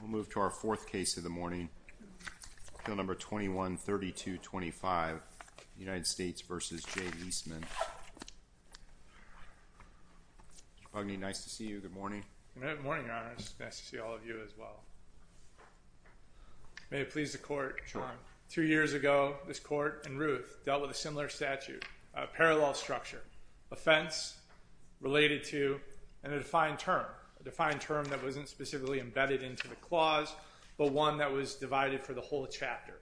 We'll move to our fourth case of the morning, bill number 21-3225, United States v. Jay Liestman. Mr. Pugney, nice to see you. Good morning. Good morning, Your Honor. It's nice to see all of you as well. May it please the Court. Sure. Two years ago, this Court and Ruth dealt with a similar statute, a parallel structure, offense related to a defined term, a defined term that wasn't specifically embedded into the clause, but one that was divided for the whole chapter.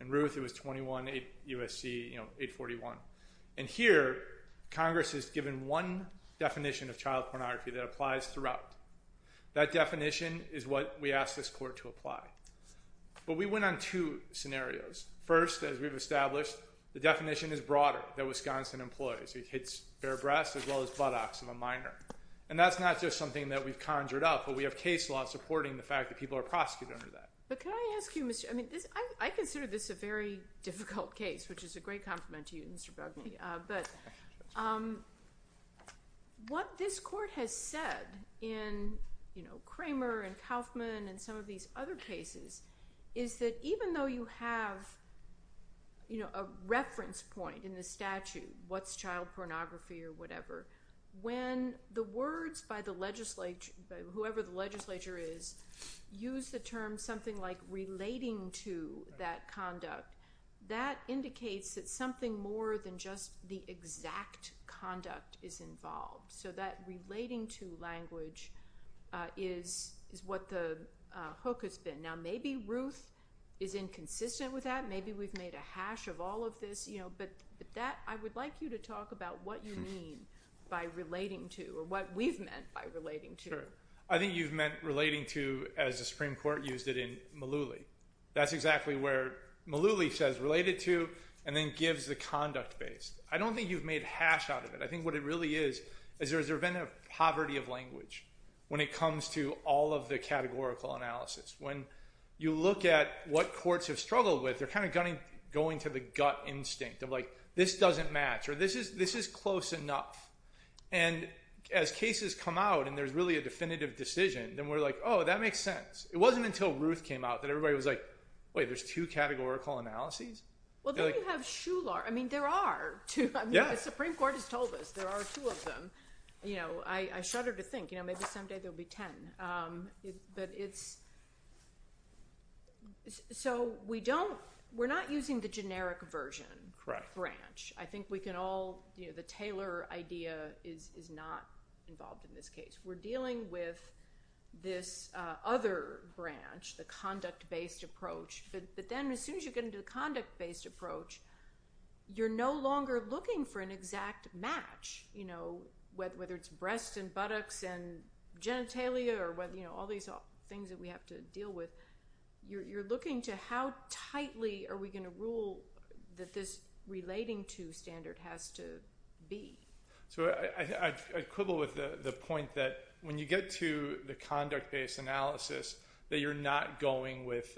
And, Ruth, it was 21 U.S.C. 841. And here, Congress has given one definition of child pornography that applies throughout. That definition is what we asked this Court to apply. But we went on two scenarios. First, as we've established, the definition is broader than Wisconsin employs. It hits bare breast as well as buttocks of a minor. And that's not just something that we've conjured up, but we have case law supporting the fact that people are prosecuted under that. But can I ask you, Mr. – I mean, I consider this a very difficult case, which is a great compliment to you, Mr. Pugney. But what this Court has said in, you know, Kramer and Kaufman and some of these other cases, is that even though you have, you know, a reference point in the statute, what's child pornography or whatever, when the words by whoever the legislature is use the term something like relating to that conduct, that indicates that something more than just the exact conduct is involved. So that relating to language is what the hook has been. Now, maybe Ruth is inconsistent with that. Maybe we've made a hash of all of this, you know. But that – I would like you to talk about what you mean by relating to or what we've meant by relating to. Sure. I think you've meant relating to as the Supreme Court used it in Malooly. That's exactly where Malooly says related to and then gives the conduct base. I don't think you've made hash out of it. I think what it really is is there has been a poverty of language when it comes to all of the categorical analysis. When you look at what courts have struggled with, they're kind of going to the gut instinct of like this doesn't match or this is close enough. And as cases come out and there's really a definitive decision, then we're like, oh, that makes sense. It wasn't until Ruth came out that everybody was like, wait, there's two categorical analyses? Well, then you have Shular. I mean there are two. The Supreme Court has told us there are two of them. I shudder to think. Maybe someday there will be ten. But it's – so we don't – we're not using the generic version. Correct. Branch. I think we can all – the Taylor idea is not involved in this case. We're dealing with this other branch, the conduct-based approach. But then as soon as you get into the conduct-based approach, you're no longer looking for an exact match, whether it's breasts and buttocks and genitalia or all these things that we have to deal with. You're looking to how tightly are we going to rule that this relating to standard has to be. So I quibble with the point that when you get to the conduct-based analysis, that you're not going with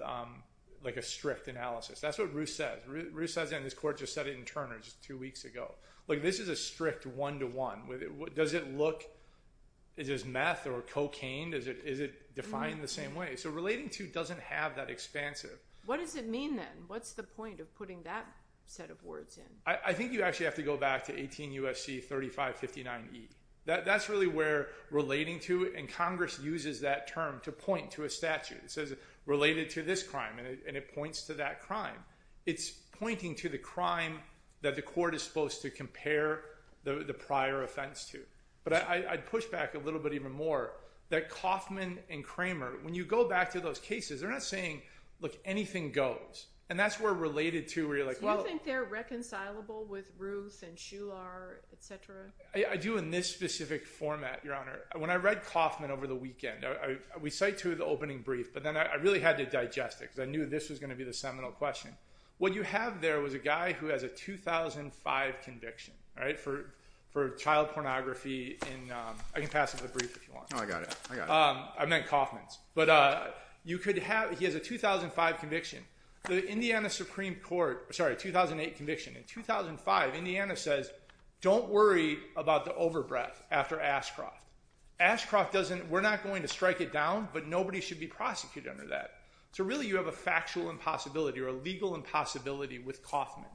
like a strict analysis. That's what Ruth says. Ruth says that and this court just said it in Turner just two weeks ago. Like this is a strict one-to-one. Does it look – is this meth or cocaine? Is it defined the same way? So relating to doesn't have that expansive. What does it mean then? What's the point of putting that set of words in? I think you actually have to go back to 18 U.S.C. 3559E. That's really where relating to and Congress uses that term to point to a statute. It says related to this crime and it points to that crime. It's pointing to the crime that the court is supposed to compare the prior offense to. But I'd push back a little bit even more that Kaufman and Kramer, when you go back to those cases, they're not saying, look, anything goes. And that's where related to where you're like, well – Are you compatible with Ruth and Shular, et cetera? I do in this specific format, Your Honor. When I read Kaufman over the weekend, we cite to the opening brief, but then I really had to digest it because I knew this was going to be the seminal question. What you have there was a guy who has a 2005 conviction for child pornography in – I can pass up the brief if you want. Oh, I got it. I got it. I meant Kaufman's. But you could have – he has a 2005 conviction. The Indiana Supreme Court – sorry, 2008 conviction. In 2005, Indiana says don't worry about the overbreath after Ashcroft. Ashcroft doesn't – we're not going to strike it down, but nobody should be prosecuted under that. So really you have a factual impossibility or a legal impossibility with Kaufman.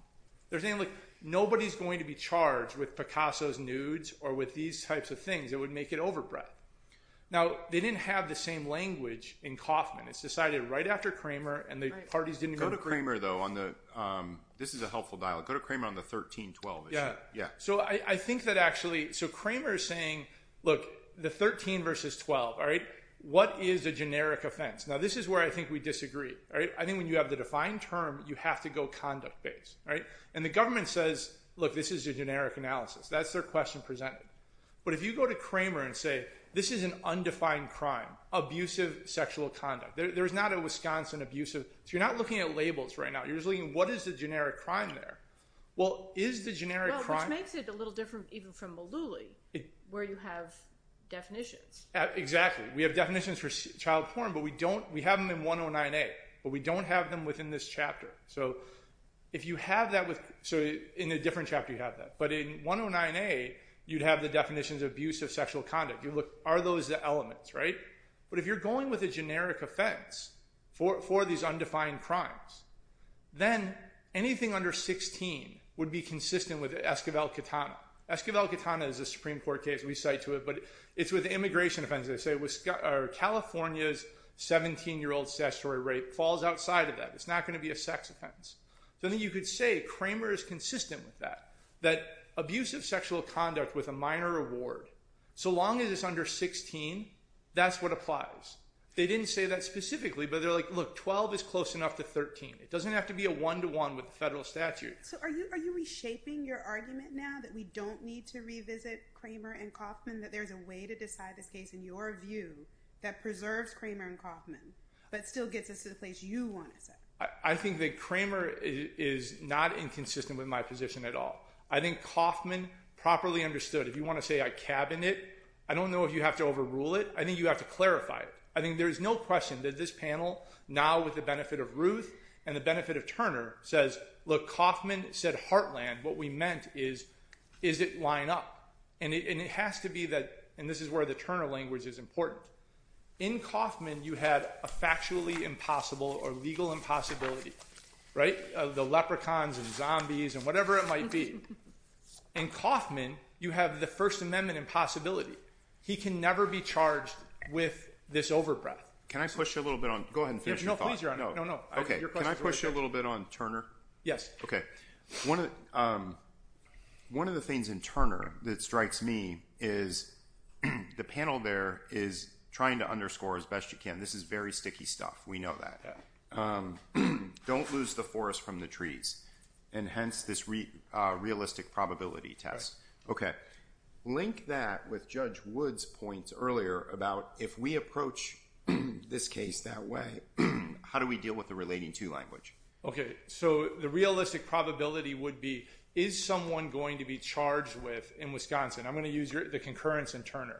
There's nothing like – nobody's going to be charged with Picasso's nudes or with these types of things that would make it overbreath. Now, they didn't have the same language in Kaufman. It's decided right after Cramer and the parties didn't even – Go to Cramer, though, on the – this is a helpful dialogue. Go to Cramer on the 13-12 issue. Yeah. So I think that actually – so Cramer is saying, look, the 13 versus 12, all right? What is a generic offense? Now, this is where I think we disagree. I think when you have the defined term, you have to go conduct-based. And the government says, look, this is a generic analysis. That's their question presented. But if you go to Cramer and say, this is an undefined crime, abusive sexual conduct. There is not a Wisconsin abusive – so you're not looking at labels right now. You're just looking at what is the generic crime there. Well, is the generic crime – Well, which makes it a little different even from Mullooly where you have definitions. Exactly. We have definitions for child porn, but we don't – we have them in 109A. But we don't have them within this chapter. So if you have that with – so in a different chapter you have that. But in 109A you'd have the definitions of abusive sexual conduct. Are those the elements, right? But if you're going with a generic offense for these undefined crimes, then anything under 16 would be consistent with Esquivel-Katana. Esquivel-Katana is a Supreme Court case. We cite to it, but it's with immigration offenses. They say California's 17-year-old statutory rape falls outside of that. It's not going to be a sex offense. So then you could say Kramer is consistent with that, that abusive sexual conduct with a minor award. So long as it's under 16, that's what applies. They didn't say that specifically, but they're like, look, 12 is close enough to 13. It doesn't have to be a one-to-one with the federal statute. So are you reshaping your argument now that we don't need to revisit Kramer and Kauffman, that there's a way to decide this case in your view that preserves Kramer and Kauffman but still gets us to the place you want us at? I think that Kramer is not inconsistent with my position at all. I think Kauffman properly understood. If you want to say I cabin it, I don't know if you have to overrule it. I think you have to clarify it. I think there is no question that this panel, now with the benefit of Ruth and the benefit of Turner, says, look, Kauffman said heartland. What we meant is, does it line up? And it has to be that, and this is where the Turner language is important. In Kauffman, you had a factually impossible or legal impossibility, right? The leprechauns and zombies and whatever it might be. In Kauffman, you have the First Amendment impossibility. He can never be charged with this overbreath. Can I push you a little bit on? Go ahead and finish your thought. No, please, Your Honor. Can I push you a little bit on Turner? Yes. Okay. One of the things in Turner that strikes me is the panel there is trying to underscore as best you can, this is very sticky stuff. We know that. Don't lose the forest from the trees, and hence this realistic probability test. Okay. Link that with Judge Wood's points earlier about if we approach this case that way, how do we deal with the relating to language? Okay. So the realistic probability would be, is someone going to be charged with in Wisconsin? I'm going to use the concurrence in Turner.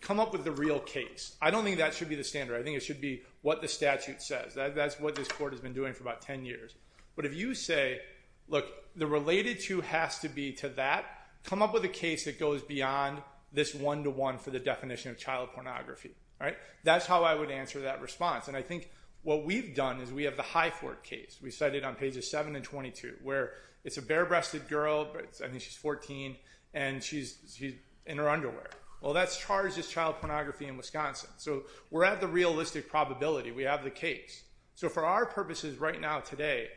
Come up with the real case. I don't think that should be the standard. I think it should be what the statute says. That's what this court has been doing for about 10 years. But if you say, look, the related to has to be to that, come up with a case that goes beyond this one-to-one for the definition of child pornography. That's how I would answer that response. And I think what we've done is we have the High Fort case. We cite it on pages 7 and 22, where it's a bare-breasted girl, I think she's 14, and she's in her underwear. Well, that's charged as child pornography in Wisconsin. So we're at the realistic probability. We have the case. So for our purposes right now today,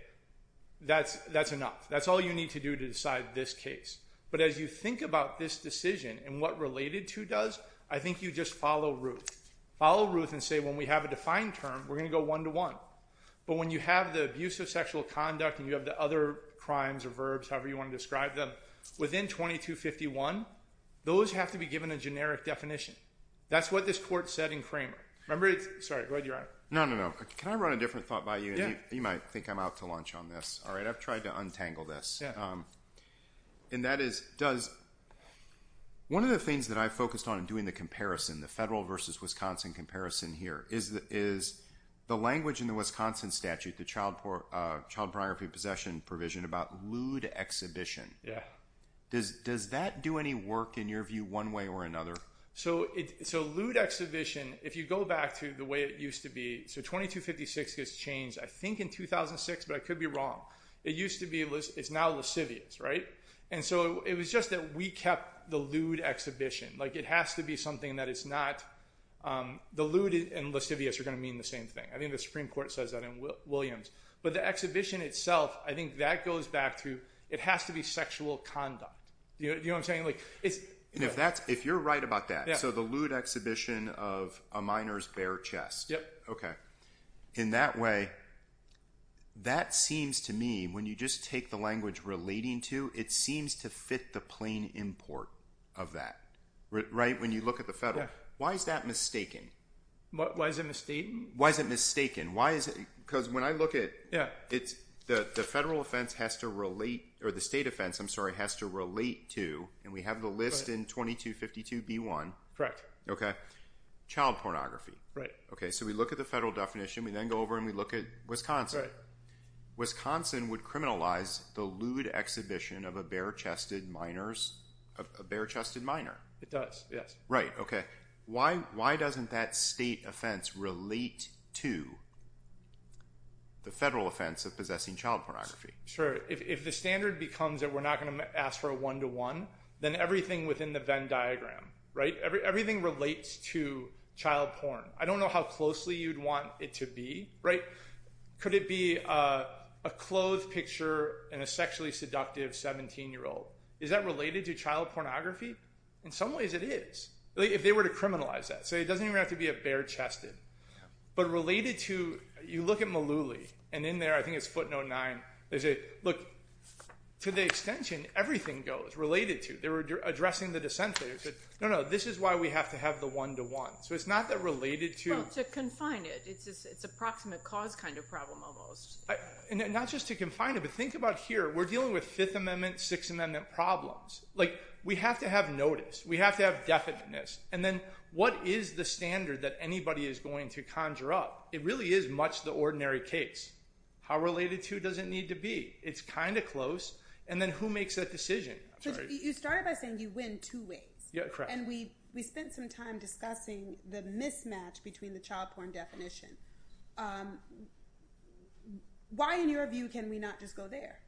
that's enough. That's all you need to do to decide this case. But as you think about this decision and what related to does, I think you just follow Ruth. And say when we have a defined term, we're going to go one-to-one. But when you have the abuse of sexual conduct and you have the other crimes or verbs, however you want to describe them, within 2251, those have to be given a generic definition. That's what this court said in Kramer. Sorry, go ahead, Your Honor. No, no, no. Can I run a different thought by you? You might think I'm out to lunch on this. All right, I've tried to untangle this. And that is, one of the things that I focused on in doing the comparison, the federal versus Wisconsin comparison here, is the language in the Wisconsin statute, the child pornography possession provision, about lewd exhibition. Yeah. Does that do any work in your view one way or another? So lewd exhibition, if you go back to the way it used to be, so 2256 gets changed I think in 2006, but I could be wrong. It used to be it's now lascivious, right? And so it was just that we kept the lewd exhibition. Like it has to be something that it's not. The lewd and lascivious are going to mean the same thing. I think the Supreme Court says that in Williams. But the exhibition itself, I think that goes back to it has to be sexual conduct. Do you know what I'm saying? If you're right about that, so the lewd exhibition of a minor's bare chest. Yep. Okay. In that way, that seems to me, when you just take the language relating to, it seems to fit the plain import of that, right? When you look at the federal. Why is that mistaken? Why is it mistaken? Why is it mistaken? Because when I look at it, the federal offense has to relate, or the state offense, I'm sorry, has to relate to, and we have the list in 2252b1. Correct. Okay. Child pornography. Right. Okay. So we look at the federal definition. We then go over and we look at Wisconsin. Right. And then we look at the lewd exhibition of a bare-chested minor. It does, yes. Right. Okay. Why doesn't that state offense relate to the federal offense of possessing child pornography? Sure. If the standard becomes that we're not going to ask for a one-to-one, then everything within the Venn diagram, right, everything relates to child porn. I don't know how closely you'd want it to be, right? Could it be a clothed picture and a sexually seductive 17-year-old? Is that related to child pornography? In some ways it is, if they were to criminalize that. So it doesn't even have to be a bare-chested. But related to, you look at Malouli, and in there I think it's footnote 9, they say, look, to the extension, everything goes, related to. They were addressing the dissenters. No, no, this is why we have to have the one-to-one. So it's not that related to. Well, to confine it. It's a proximate cause kind of problem almost. Not just to confine it, but think about here. We're dealing with Fifth Amendment, Sixth Amendment problems. Like we have to have notice. We have to have definiteness. And then what is the standard that anybody is going to conjure up? It really is much the ordinary case. How related to does it need to be? It's kind of close. And then who makes that decision? You started by saying you win two ways. Correct. And we spent some time discussing the mismatch between the child porn definition. Why, in your view, can we not just go there?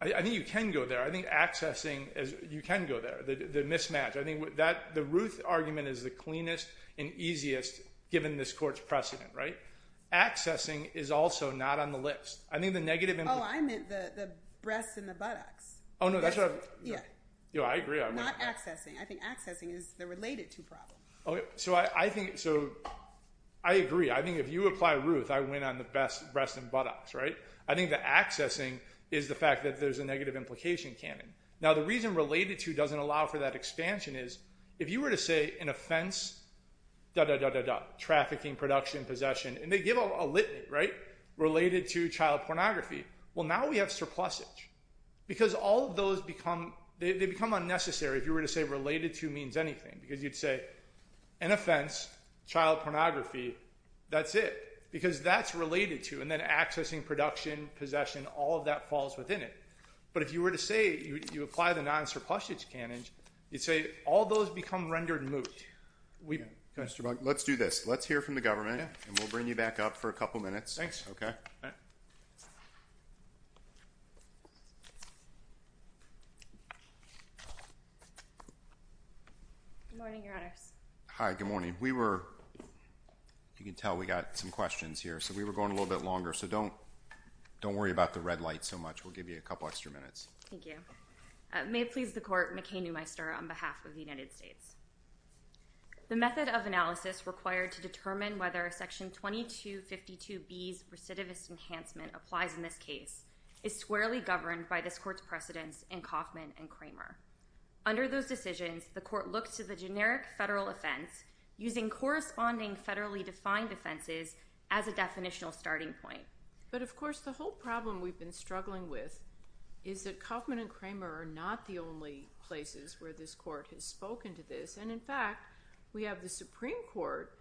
I think you can go there. I think accessing, you can go there, the mismatch. I think the Ruth argument is the cleanest and easiest given this court's precedent, right? Accessing is also not on the list. Oh, I meant the breasts and the buttocks. Oh, no, that's what I meant. I agree. Not accessing. I think accessing is the related to problem. So I agree. I think if you apply Ruth, I win on the breasts and buttocks, right? I think that accessing is the fact that there's a negative implication canon. Now, the reason related to doesn't allow for that expansion is if you were to say an offense, da-da-da-da-da, trafficking, production, possession, and they give a litany, right, related to child pornography, well, now we have surplusage because all of those become unnecessary if you were to say related to means anything because you'd say an offense, child pornography, that's it because that's related to and then accessing, production, possession, all of that falls within it. But if you were to say you apply the non-surplusage canon, you'd say all those become rendered moot. Let's do this. Let's hear from the government, and we'll bring you back up for a couple minutes. Thanks. Okay. Good morning, Your Honors. Hi, good morning. We were, you can tell we got some questions here, so we were going a little bit longer, so don't worry about the red light so much. We'll give you a couple extra minutes. Thank you. May it please the Court, McKay-Newmeister on behalf of the United States. The method of analysis required to determine whether Section 2252B's recidivist enhancement applies in this case is squarely governed by this Court's precedents in Kaufman and Kramer. Under those decisions, the Court looks to the generic federal offense using corresponding federally defined offenses as a definitional starting point. But, of course, the whole problem we've been struggling with is that Kaufman and Kramer are not the only places where this Court has spoken to this. And, in fact, we have the Supreme Court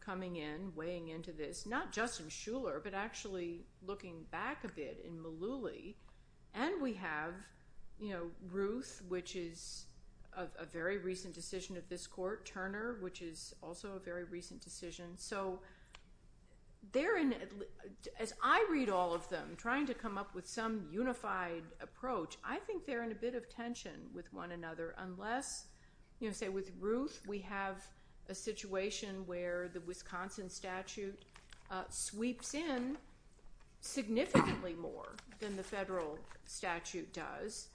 coming in, weighing into this, not just in Shuler, but actually looking back a bit in Mullooly. And we have, you know, Ruth, which is a very recent decision of this Court, Turner, which is also a very recent decision. So they're in, as I read all of them, trying to come up with some unified approach, I think they're in a bit of tension with one another unless, you know, say with Ruth, we have a situation where the Wisconsin statute sweeps in significantly more than the federal statute does.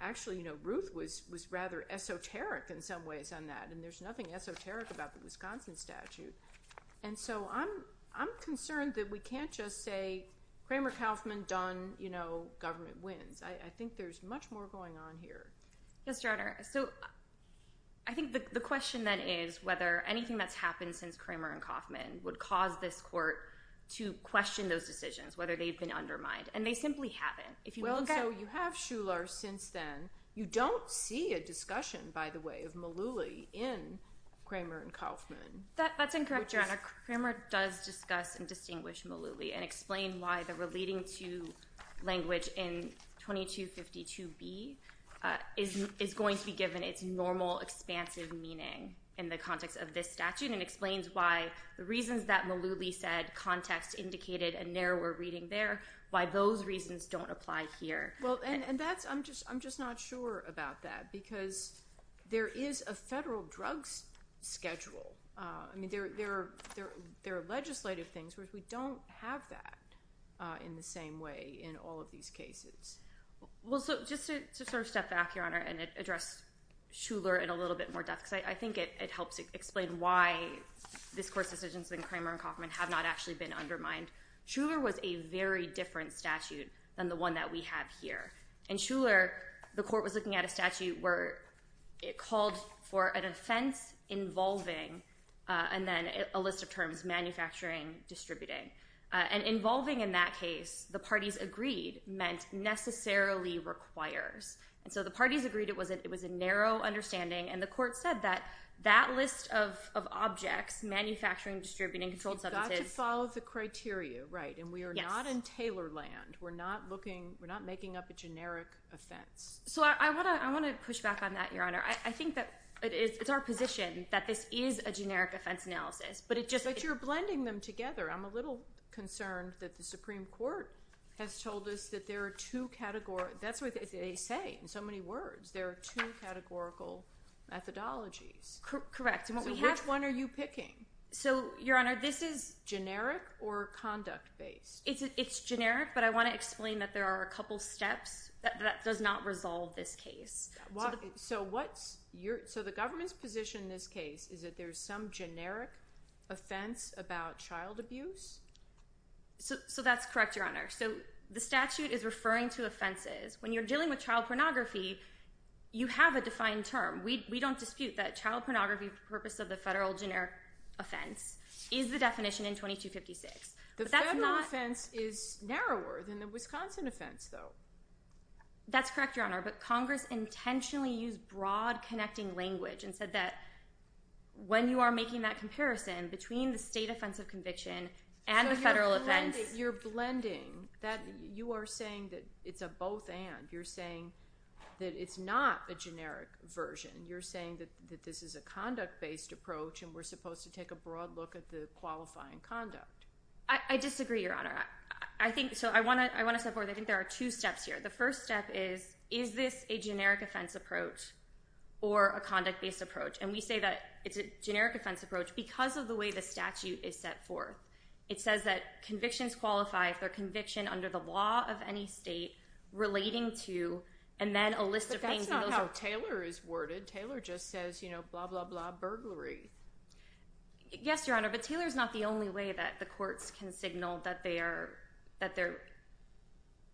Actually, you know, Ruth was rather esoteric in some ways on that, and there's nothing esoteric about the Wisconsin statute. And so I'm concerned that we can't just say Kramer-Kaufman done, you know, government wins. I think there's much more going on here. Yes, Your Honor. So I think the question then is whether anything that's happened since Kramer-Kaufman would cause this Court to question those decisions, whether they've been undermined. And they simply haven't. Well, so you have Shuler since then. You don't see a discussion, by the way, of Mullooly in Kramer-Kaufman. That's incorrect, Your Honor. Kramer does discuss and distinguish Mullooly and explain why the relating to language in 2252B is going to be given its normal expansive meaning in the context of this statute and explains why the reasons that Mullooly said context indicated a narrower reading there, why those reasons don't apply here. Well, and I'm just not sure about that because there is a federal drugs schedule. I mean, there are legislative things where we don't have that in the same way in all of these cases. Well, so just to sort of step back, Your Honor, and address Shuler in a little bit more depth because I think it helps explain why this Court's decisions in Kramer-Kaufman have not actually been undermined. Shuler was a very different statute than the one that we have here. In Shuler, the Court was looking at a statute where it called for an offense involving and then a list of terms, manufacturing, distributing. And involving in that case, the parties agreed, meant necessarily requires. And so the parties agreed it was a narrow understanding, and the Court said that that list of objects, manufacturing, distributing, controlled substances You've got to follow the criteria, right, and we are not in Taylor land. We're not making up a generic offense. So I want to push back on that, Your Honor. I think that it's our position that this is a generic offense analysis, but it just But you're blending them together. I'm a little concerned that the Supreme Court has told us that there are two categories. That's what they say in so many words. There are two categorical methodologies. Correct. So which one are you picking? So, Your Honor, this is Generic or conduct-based? It's generic, but I want to explain that there are a couple steps that does not resolve this case. So the government's position in this case is that there's some generic offense about child abuse? So that's correct, Your Honor. So the statute is referring to offenses. When you're dealing with child pornography, you have a defined term. We don't dispute that child pornography for the purpose of the federal generic offense is the definition in 2256. The federal offense is narrower than the Wisconsin offense, though. That's correct, Your Honor. But Congress intentionally used broad connecting language and said that when you are making that comparison between the state offense of conviction and the federal offense So you're blending. You are saying that it's a both and. You're saying that it's not a generic version. You're saying that this is a conduct-based approach, and we're supposed to take a broad look at the qualifying conduct. I disagree, Your Honor. I think so. I want to step forward. I think there are two steps here. The first step is, is this a generic offense approach or a conduct-based approach? And we say that it's a generic offense approach because of the way the statute is set forth. It says that convictions qualify for conviction under the law of any state relating to and then a list of things. That's not how Taylor is worded. Taylor just says, you know, blah, blah, blah, burglary. Yes, Your Honor, but Taylor is not the only way that the courts can signal that they are, that they're,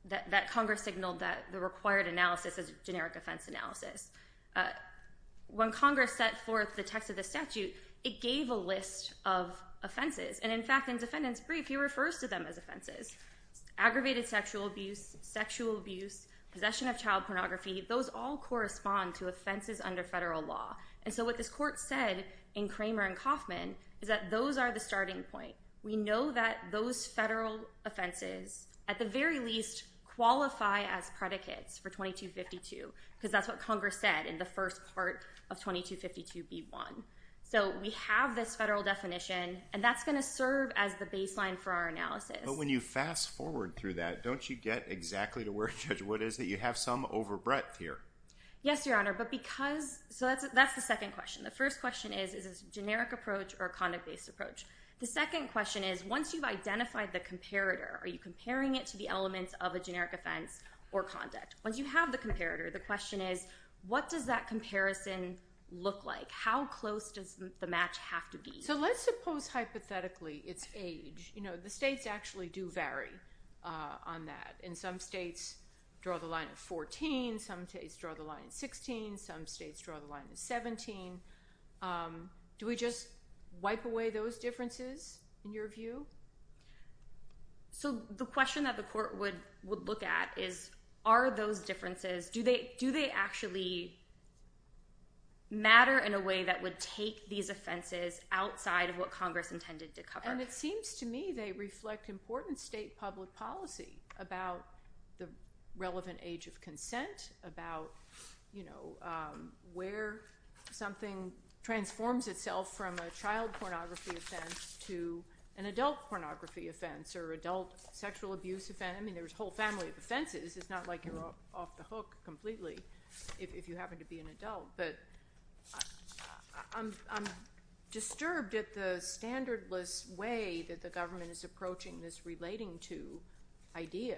that Congress signaled that the required analysis is a generic offense analysis. When Congress set forth the text of the statute, it gave a list of offenses. And, in fact, in defendant's brief, he refers to them as offenses. Aggravated sexual abuse, sexual abuse, possession of child pornography, those all correspond to offenses under federal law. And so what this court said in Kramer and Kaufman is that those are the starting point. We know that those federal offenses, at the very least, qualify as predicates for 2252 because that's what Congress said in the first part of 2252b1. So we have this federal definition, and that's going to serve as the baseline for our analysis. But when you fast forward through that, don't you get exactly to where Judge Wood is, that you have some overbreadth here? Yes, Your Honor, but because, so that's the second question. The first question is, is this a generic approach or a conduct-based approach? The second question is, once you've identified the comparator, are you comparing it to the elements of a generic offense or conduct? Once you have the comparator, the question is, what does that comparison look like? How close does the match have to be? So let's suppose, hypothetically, its age. You know, the states actually do vary on that. And some states draw the line at 14. Some states draw the line at 16. Some states draw the line at 17. Do we just wipe away those differences, in your view? So the question that the court would look at is, are those differences, do they actually matter in a way that would take these offenses outside of what Congress intended to cover? And it seems to me they reflect important state public policy about the relevant age of consent, about, you know, where something transforms itself from a child pornography offense to an adult pornography offense or adult sexual abuse offense. I mean, there's a whole family of offenses. It's not like you're off the hook completely if you happen to be an adult. But I'm disturbed at the standardless way that the government is approaching this relating to idea.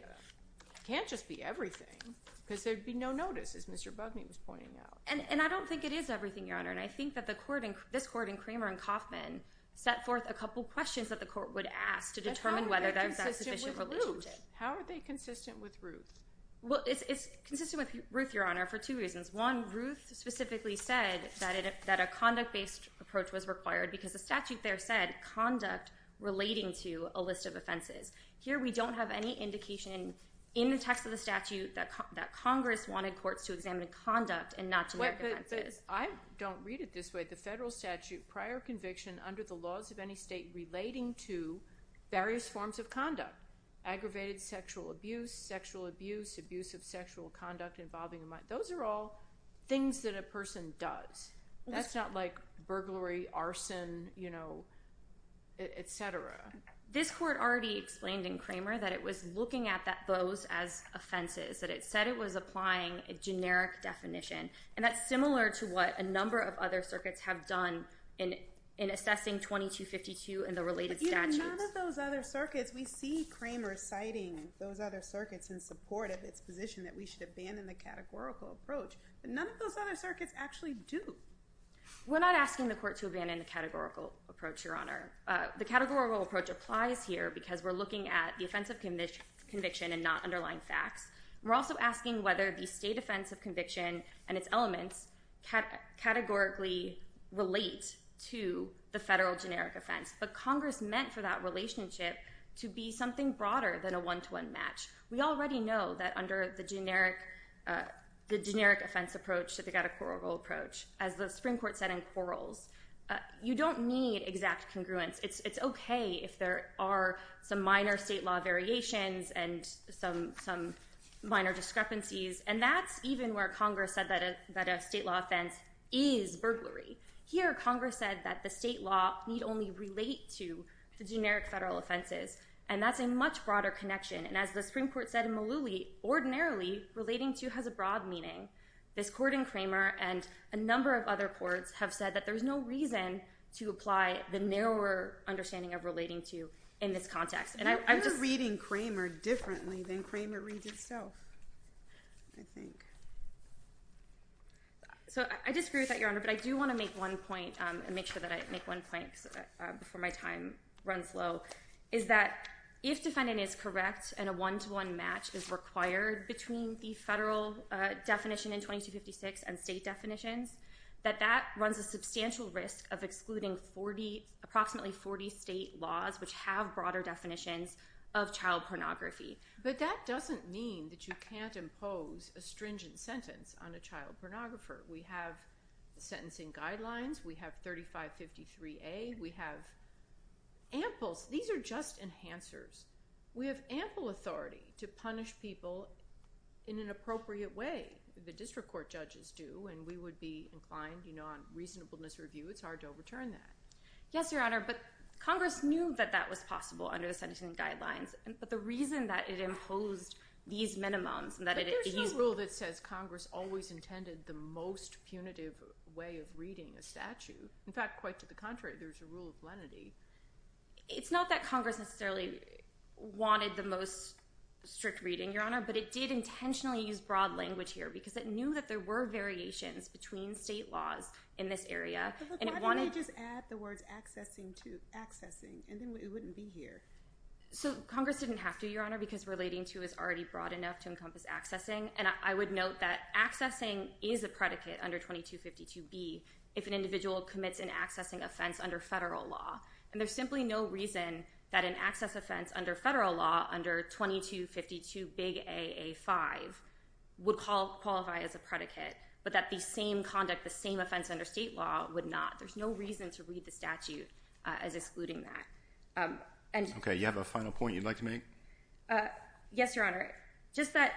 It can't just be everything because there'd be no notice, as Mr. Bugney was pointing out. And I don't think it is everything, Your Honor. And I think that this court in Kramer and Kauffman set forth a couple questions that the court would ask to determine whether that's sufficient or not. How are they consistent with Ruth? Well, it's consistent with Ruth, Your Honor, for two reasons. One, Ruth specifically said that a conduct-based approach was required because the statute there said conduct relating to a list of offenses. Here we don't have any indication in the text of the statute that Congress wanted courts to examine conduct and not to make offenses. But I don't read it this way. The federal statute prior conviction under the laws of any state relating to various forms of conduct, aggravated sexual abuse, sexual abuse, abuse of sexual conduct involving a mind. Those are all things that a person does. That's not like burglary, arson, you know, et cetera. This court already explained in Kramer that it was looking at those as offenses, that it said it was applying a generic definition. And that's similar to what a number of other circuits have done in assessing 2252 and the related statutes. None of those other circuits. We see Kramer citing those other circuits in support of its position that we should abandon the categorical approach. But none of those other circuits actually do. We're not asking the court to abandon the categorical approach, Your Honor. The categorical approach applies here because we're looking at the offense of conviction and not underlying facts. We're also asking whether the state offense of conviction and its elements categorically relate to the federal generic offense. But Congress meant for that relationship to be something broader than a one-to-one match. We already know that under the generic offense approach, the categorical approach, as the Supreme Court said in Quarrels, you don't need exact congruence. It's okay if there are some minor state law variations and some minor discrepancies. And that's even where Congress said that a state law offense is burglary. Here, Congress said that the state law need only relate to the generic federal offenses. And that's a much broader connection. And as the Supreme Court said in Mullooly, ordinarily, relating to has a broad meaning. This court in Kramer and a number of other courts have said that there's no reason to apply the narrower understanding of relating to in this context. You're reading Kramer differently than Kramer reads itself, I think. But I do want to make one point and make sure that I make one point before my time runs low. Is that if defendant is correct and a one-to-one match is required between the federal definition in 2256 and state definitions, that that runs a substantial risk of excluding approximately 40 state laws which have broader definitions of child pornography. But that doesn't mean that you can't impose a stringent sentence on a child pornographer. We have sentencing guidelines. We have 3553A. We have amples. These are just enhancers. We have ample authority to punish people in an appropriate way. The district court judges do, and we would be inclined, you know, on reasonableness review. It's hard to overturn that. Yes, Your Honor, but Congress knew that that was possible under the sentencing guidelines. But the reason that it imposed these minimums and that it— There's no rule that says Congress always intended the most punitive way of reading a statute. In fact, quite to the contrary, there's a rule of lenity. It's not that Congress necessarily wanted the most strict reading, Your Honor, but it did intentionally use broad language here because it knew that there were variations between state laws in this area. But why didn't they just add the words accessing to—accessing, and then it wouldn't be here? So Congress didn't have to, Your Honor, because relating to is already broad enough to encompass accessing. And I would note that accessing is a predicate under 2252B if an individual commits an accessing offense under federal law. And there's simply no reason that an access offense under federal law under 2252AA5 would qualify as a predicate, but that the same conduct, the same offense under state law would not. There's no reason to read the statute as excluding that. Okay. You have a final point you'd like to make? Yes, Your Honor. Just that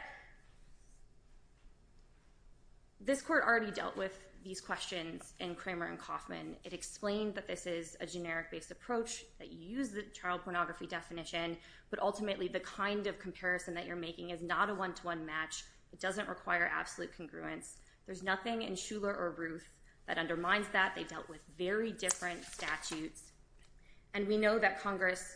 this court already dealt with these questions in Cramer and Kaufman. It explained that this is a generic-based approach, that you use the child pornography definition, but ultimately the kind of comparison that you're making is not a one-to-one match. It doesn't require absolute congruence. There's nothing in Shuler or Ruth that undermines that. They dealt with very different statutes. And we know that Congress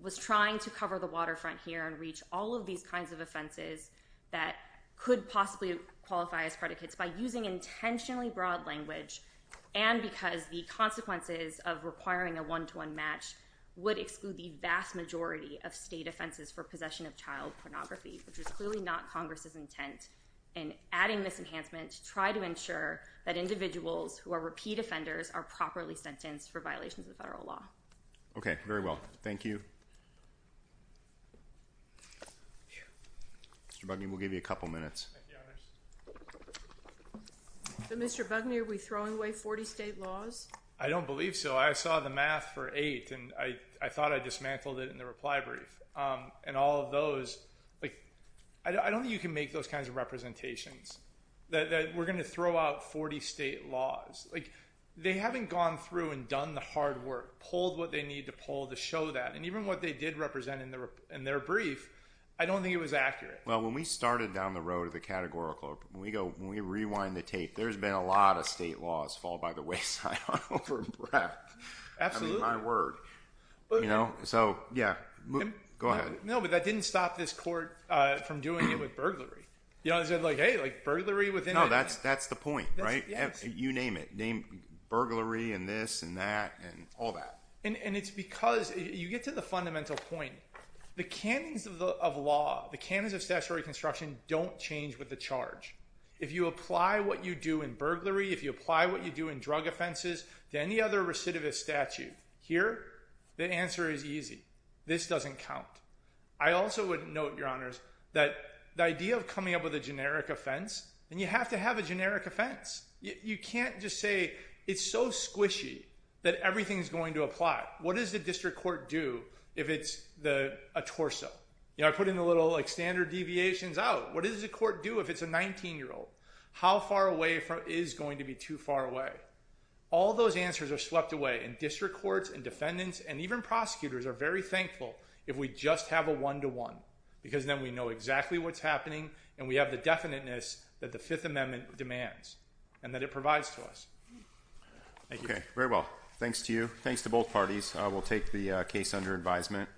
was trying to cover the waterfront here and reach all of these kinds of offenses that could possibly qualify as predicates by using intentionally broad language and because the consequences of requiring a one-to-one match would exclude the vast majority of state offenses for possession of child pornography, which is clearly not Congress's intent. And adding this enhancement to try to ensure that individuals who are repeat offenders are properly sentenced for violations of federal law. Okay. Very well. Thank you. Mr. Bugner, we'll give you a couple minutes. Thank you, Your Honors. So, Mr. Bugner, are we throwing away 40 state laws? I don't believe so. I saw the math for eight, and I thought I dismantled it in the reply brief. And all of those, like, I don't think you can make those kinds of representations. That we're going to throw out 40 state laws. Like, they haven't gone through and done the hard work, pulled what they need to pull to show that. And even what they did represent in their brief, I don't think it was accurate. Well, when we started down the road of the Categorical, when we go, when we rewind the tape, there's been a lot of state laws fall by the wayside. I'm out of breath. Absolutely. I mean, my word. You know? So, yeah. Go ahead. No, but that didn't stop this court from doing it with burglary. You know, it said, like, hey, like, burglary within it. No, that's the point, right? You name it. Name burglary and this and that and all that. And it's because you get to the fundamental point. The canons of law, the canons of statutory construction don't change with the charge. If you apply what you do in burglary, if you apply what you do in drug offenses to any other recidivist statute, here, the answer is easy. This doesn't count. I also would note, Your Honors, that the idea of coming up with a generic offense, and you have to have a generic offense. You can't just say it's so squishy that everything's going to apply. What does the district court do if it's a torso? You know, I put in the little, like, standard deviations out. What does the court do if it's a 19-year-old? How far away is going to be too far away? All those answers are swept away, and district courts and defendants and even prosecutors are very thankful if we just have a one-to-one because then we know exactly what's happening and we have the definiteness that the Fifth Amendment demands and that it provides to us. Okay, very well. Thanks to you. Thanks to both parties. We'll take the case under advisement.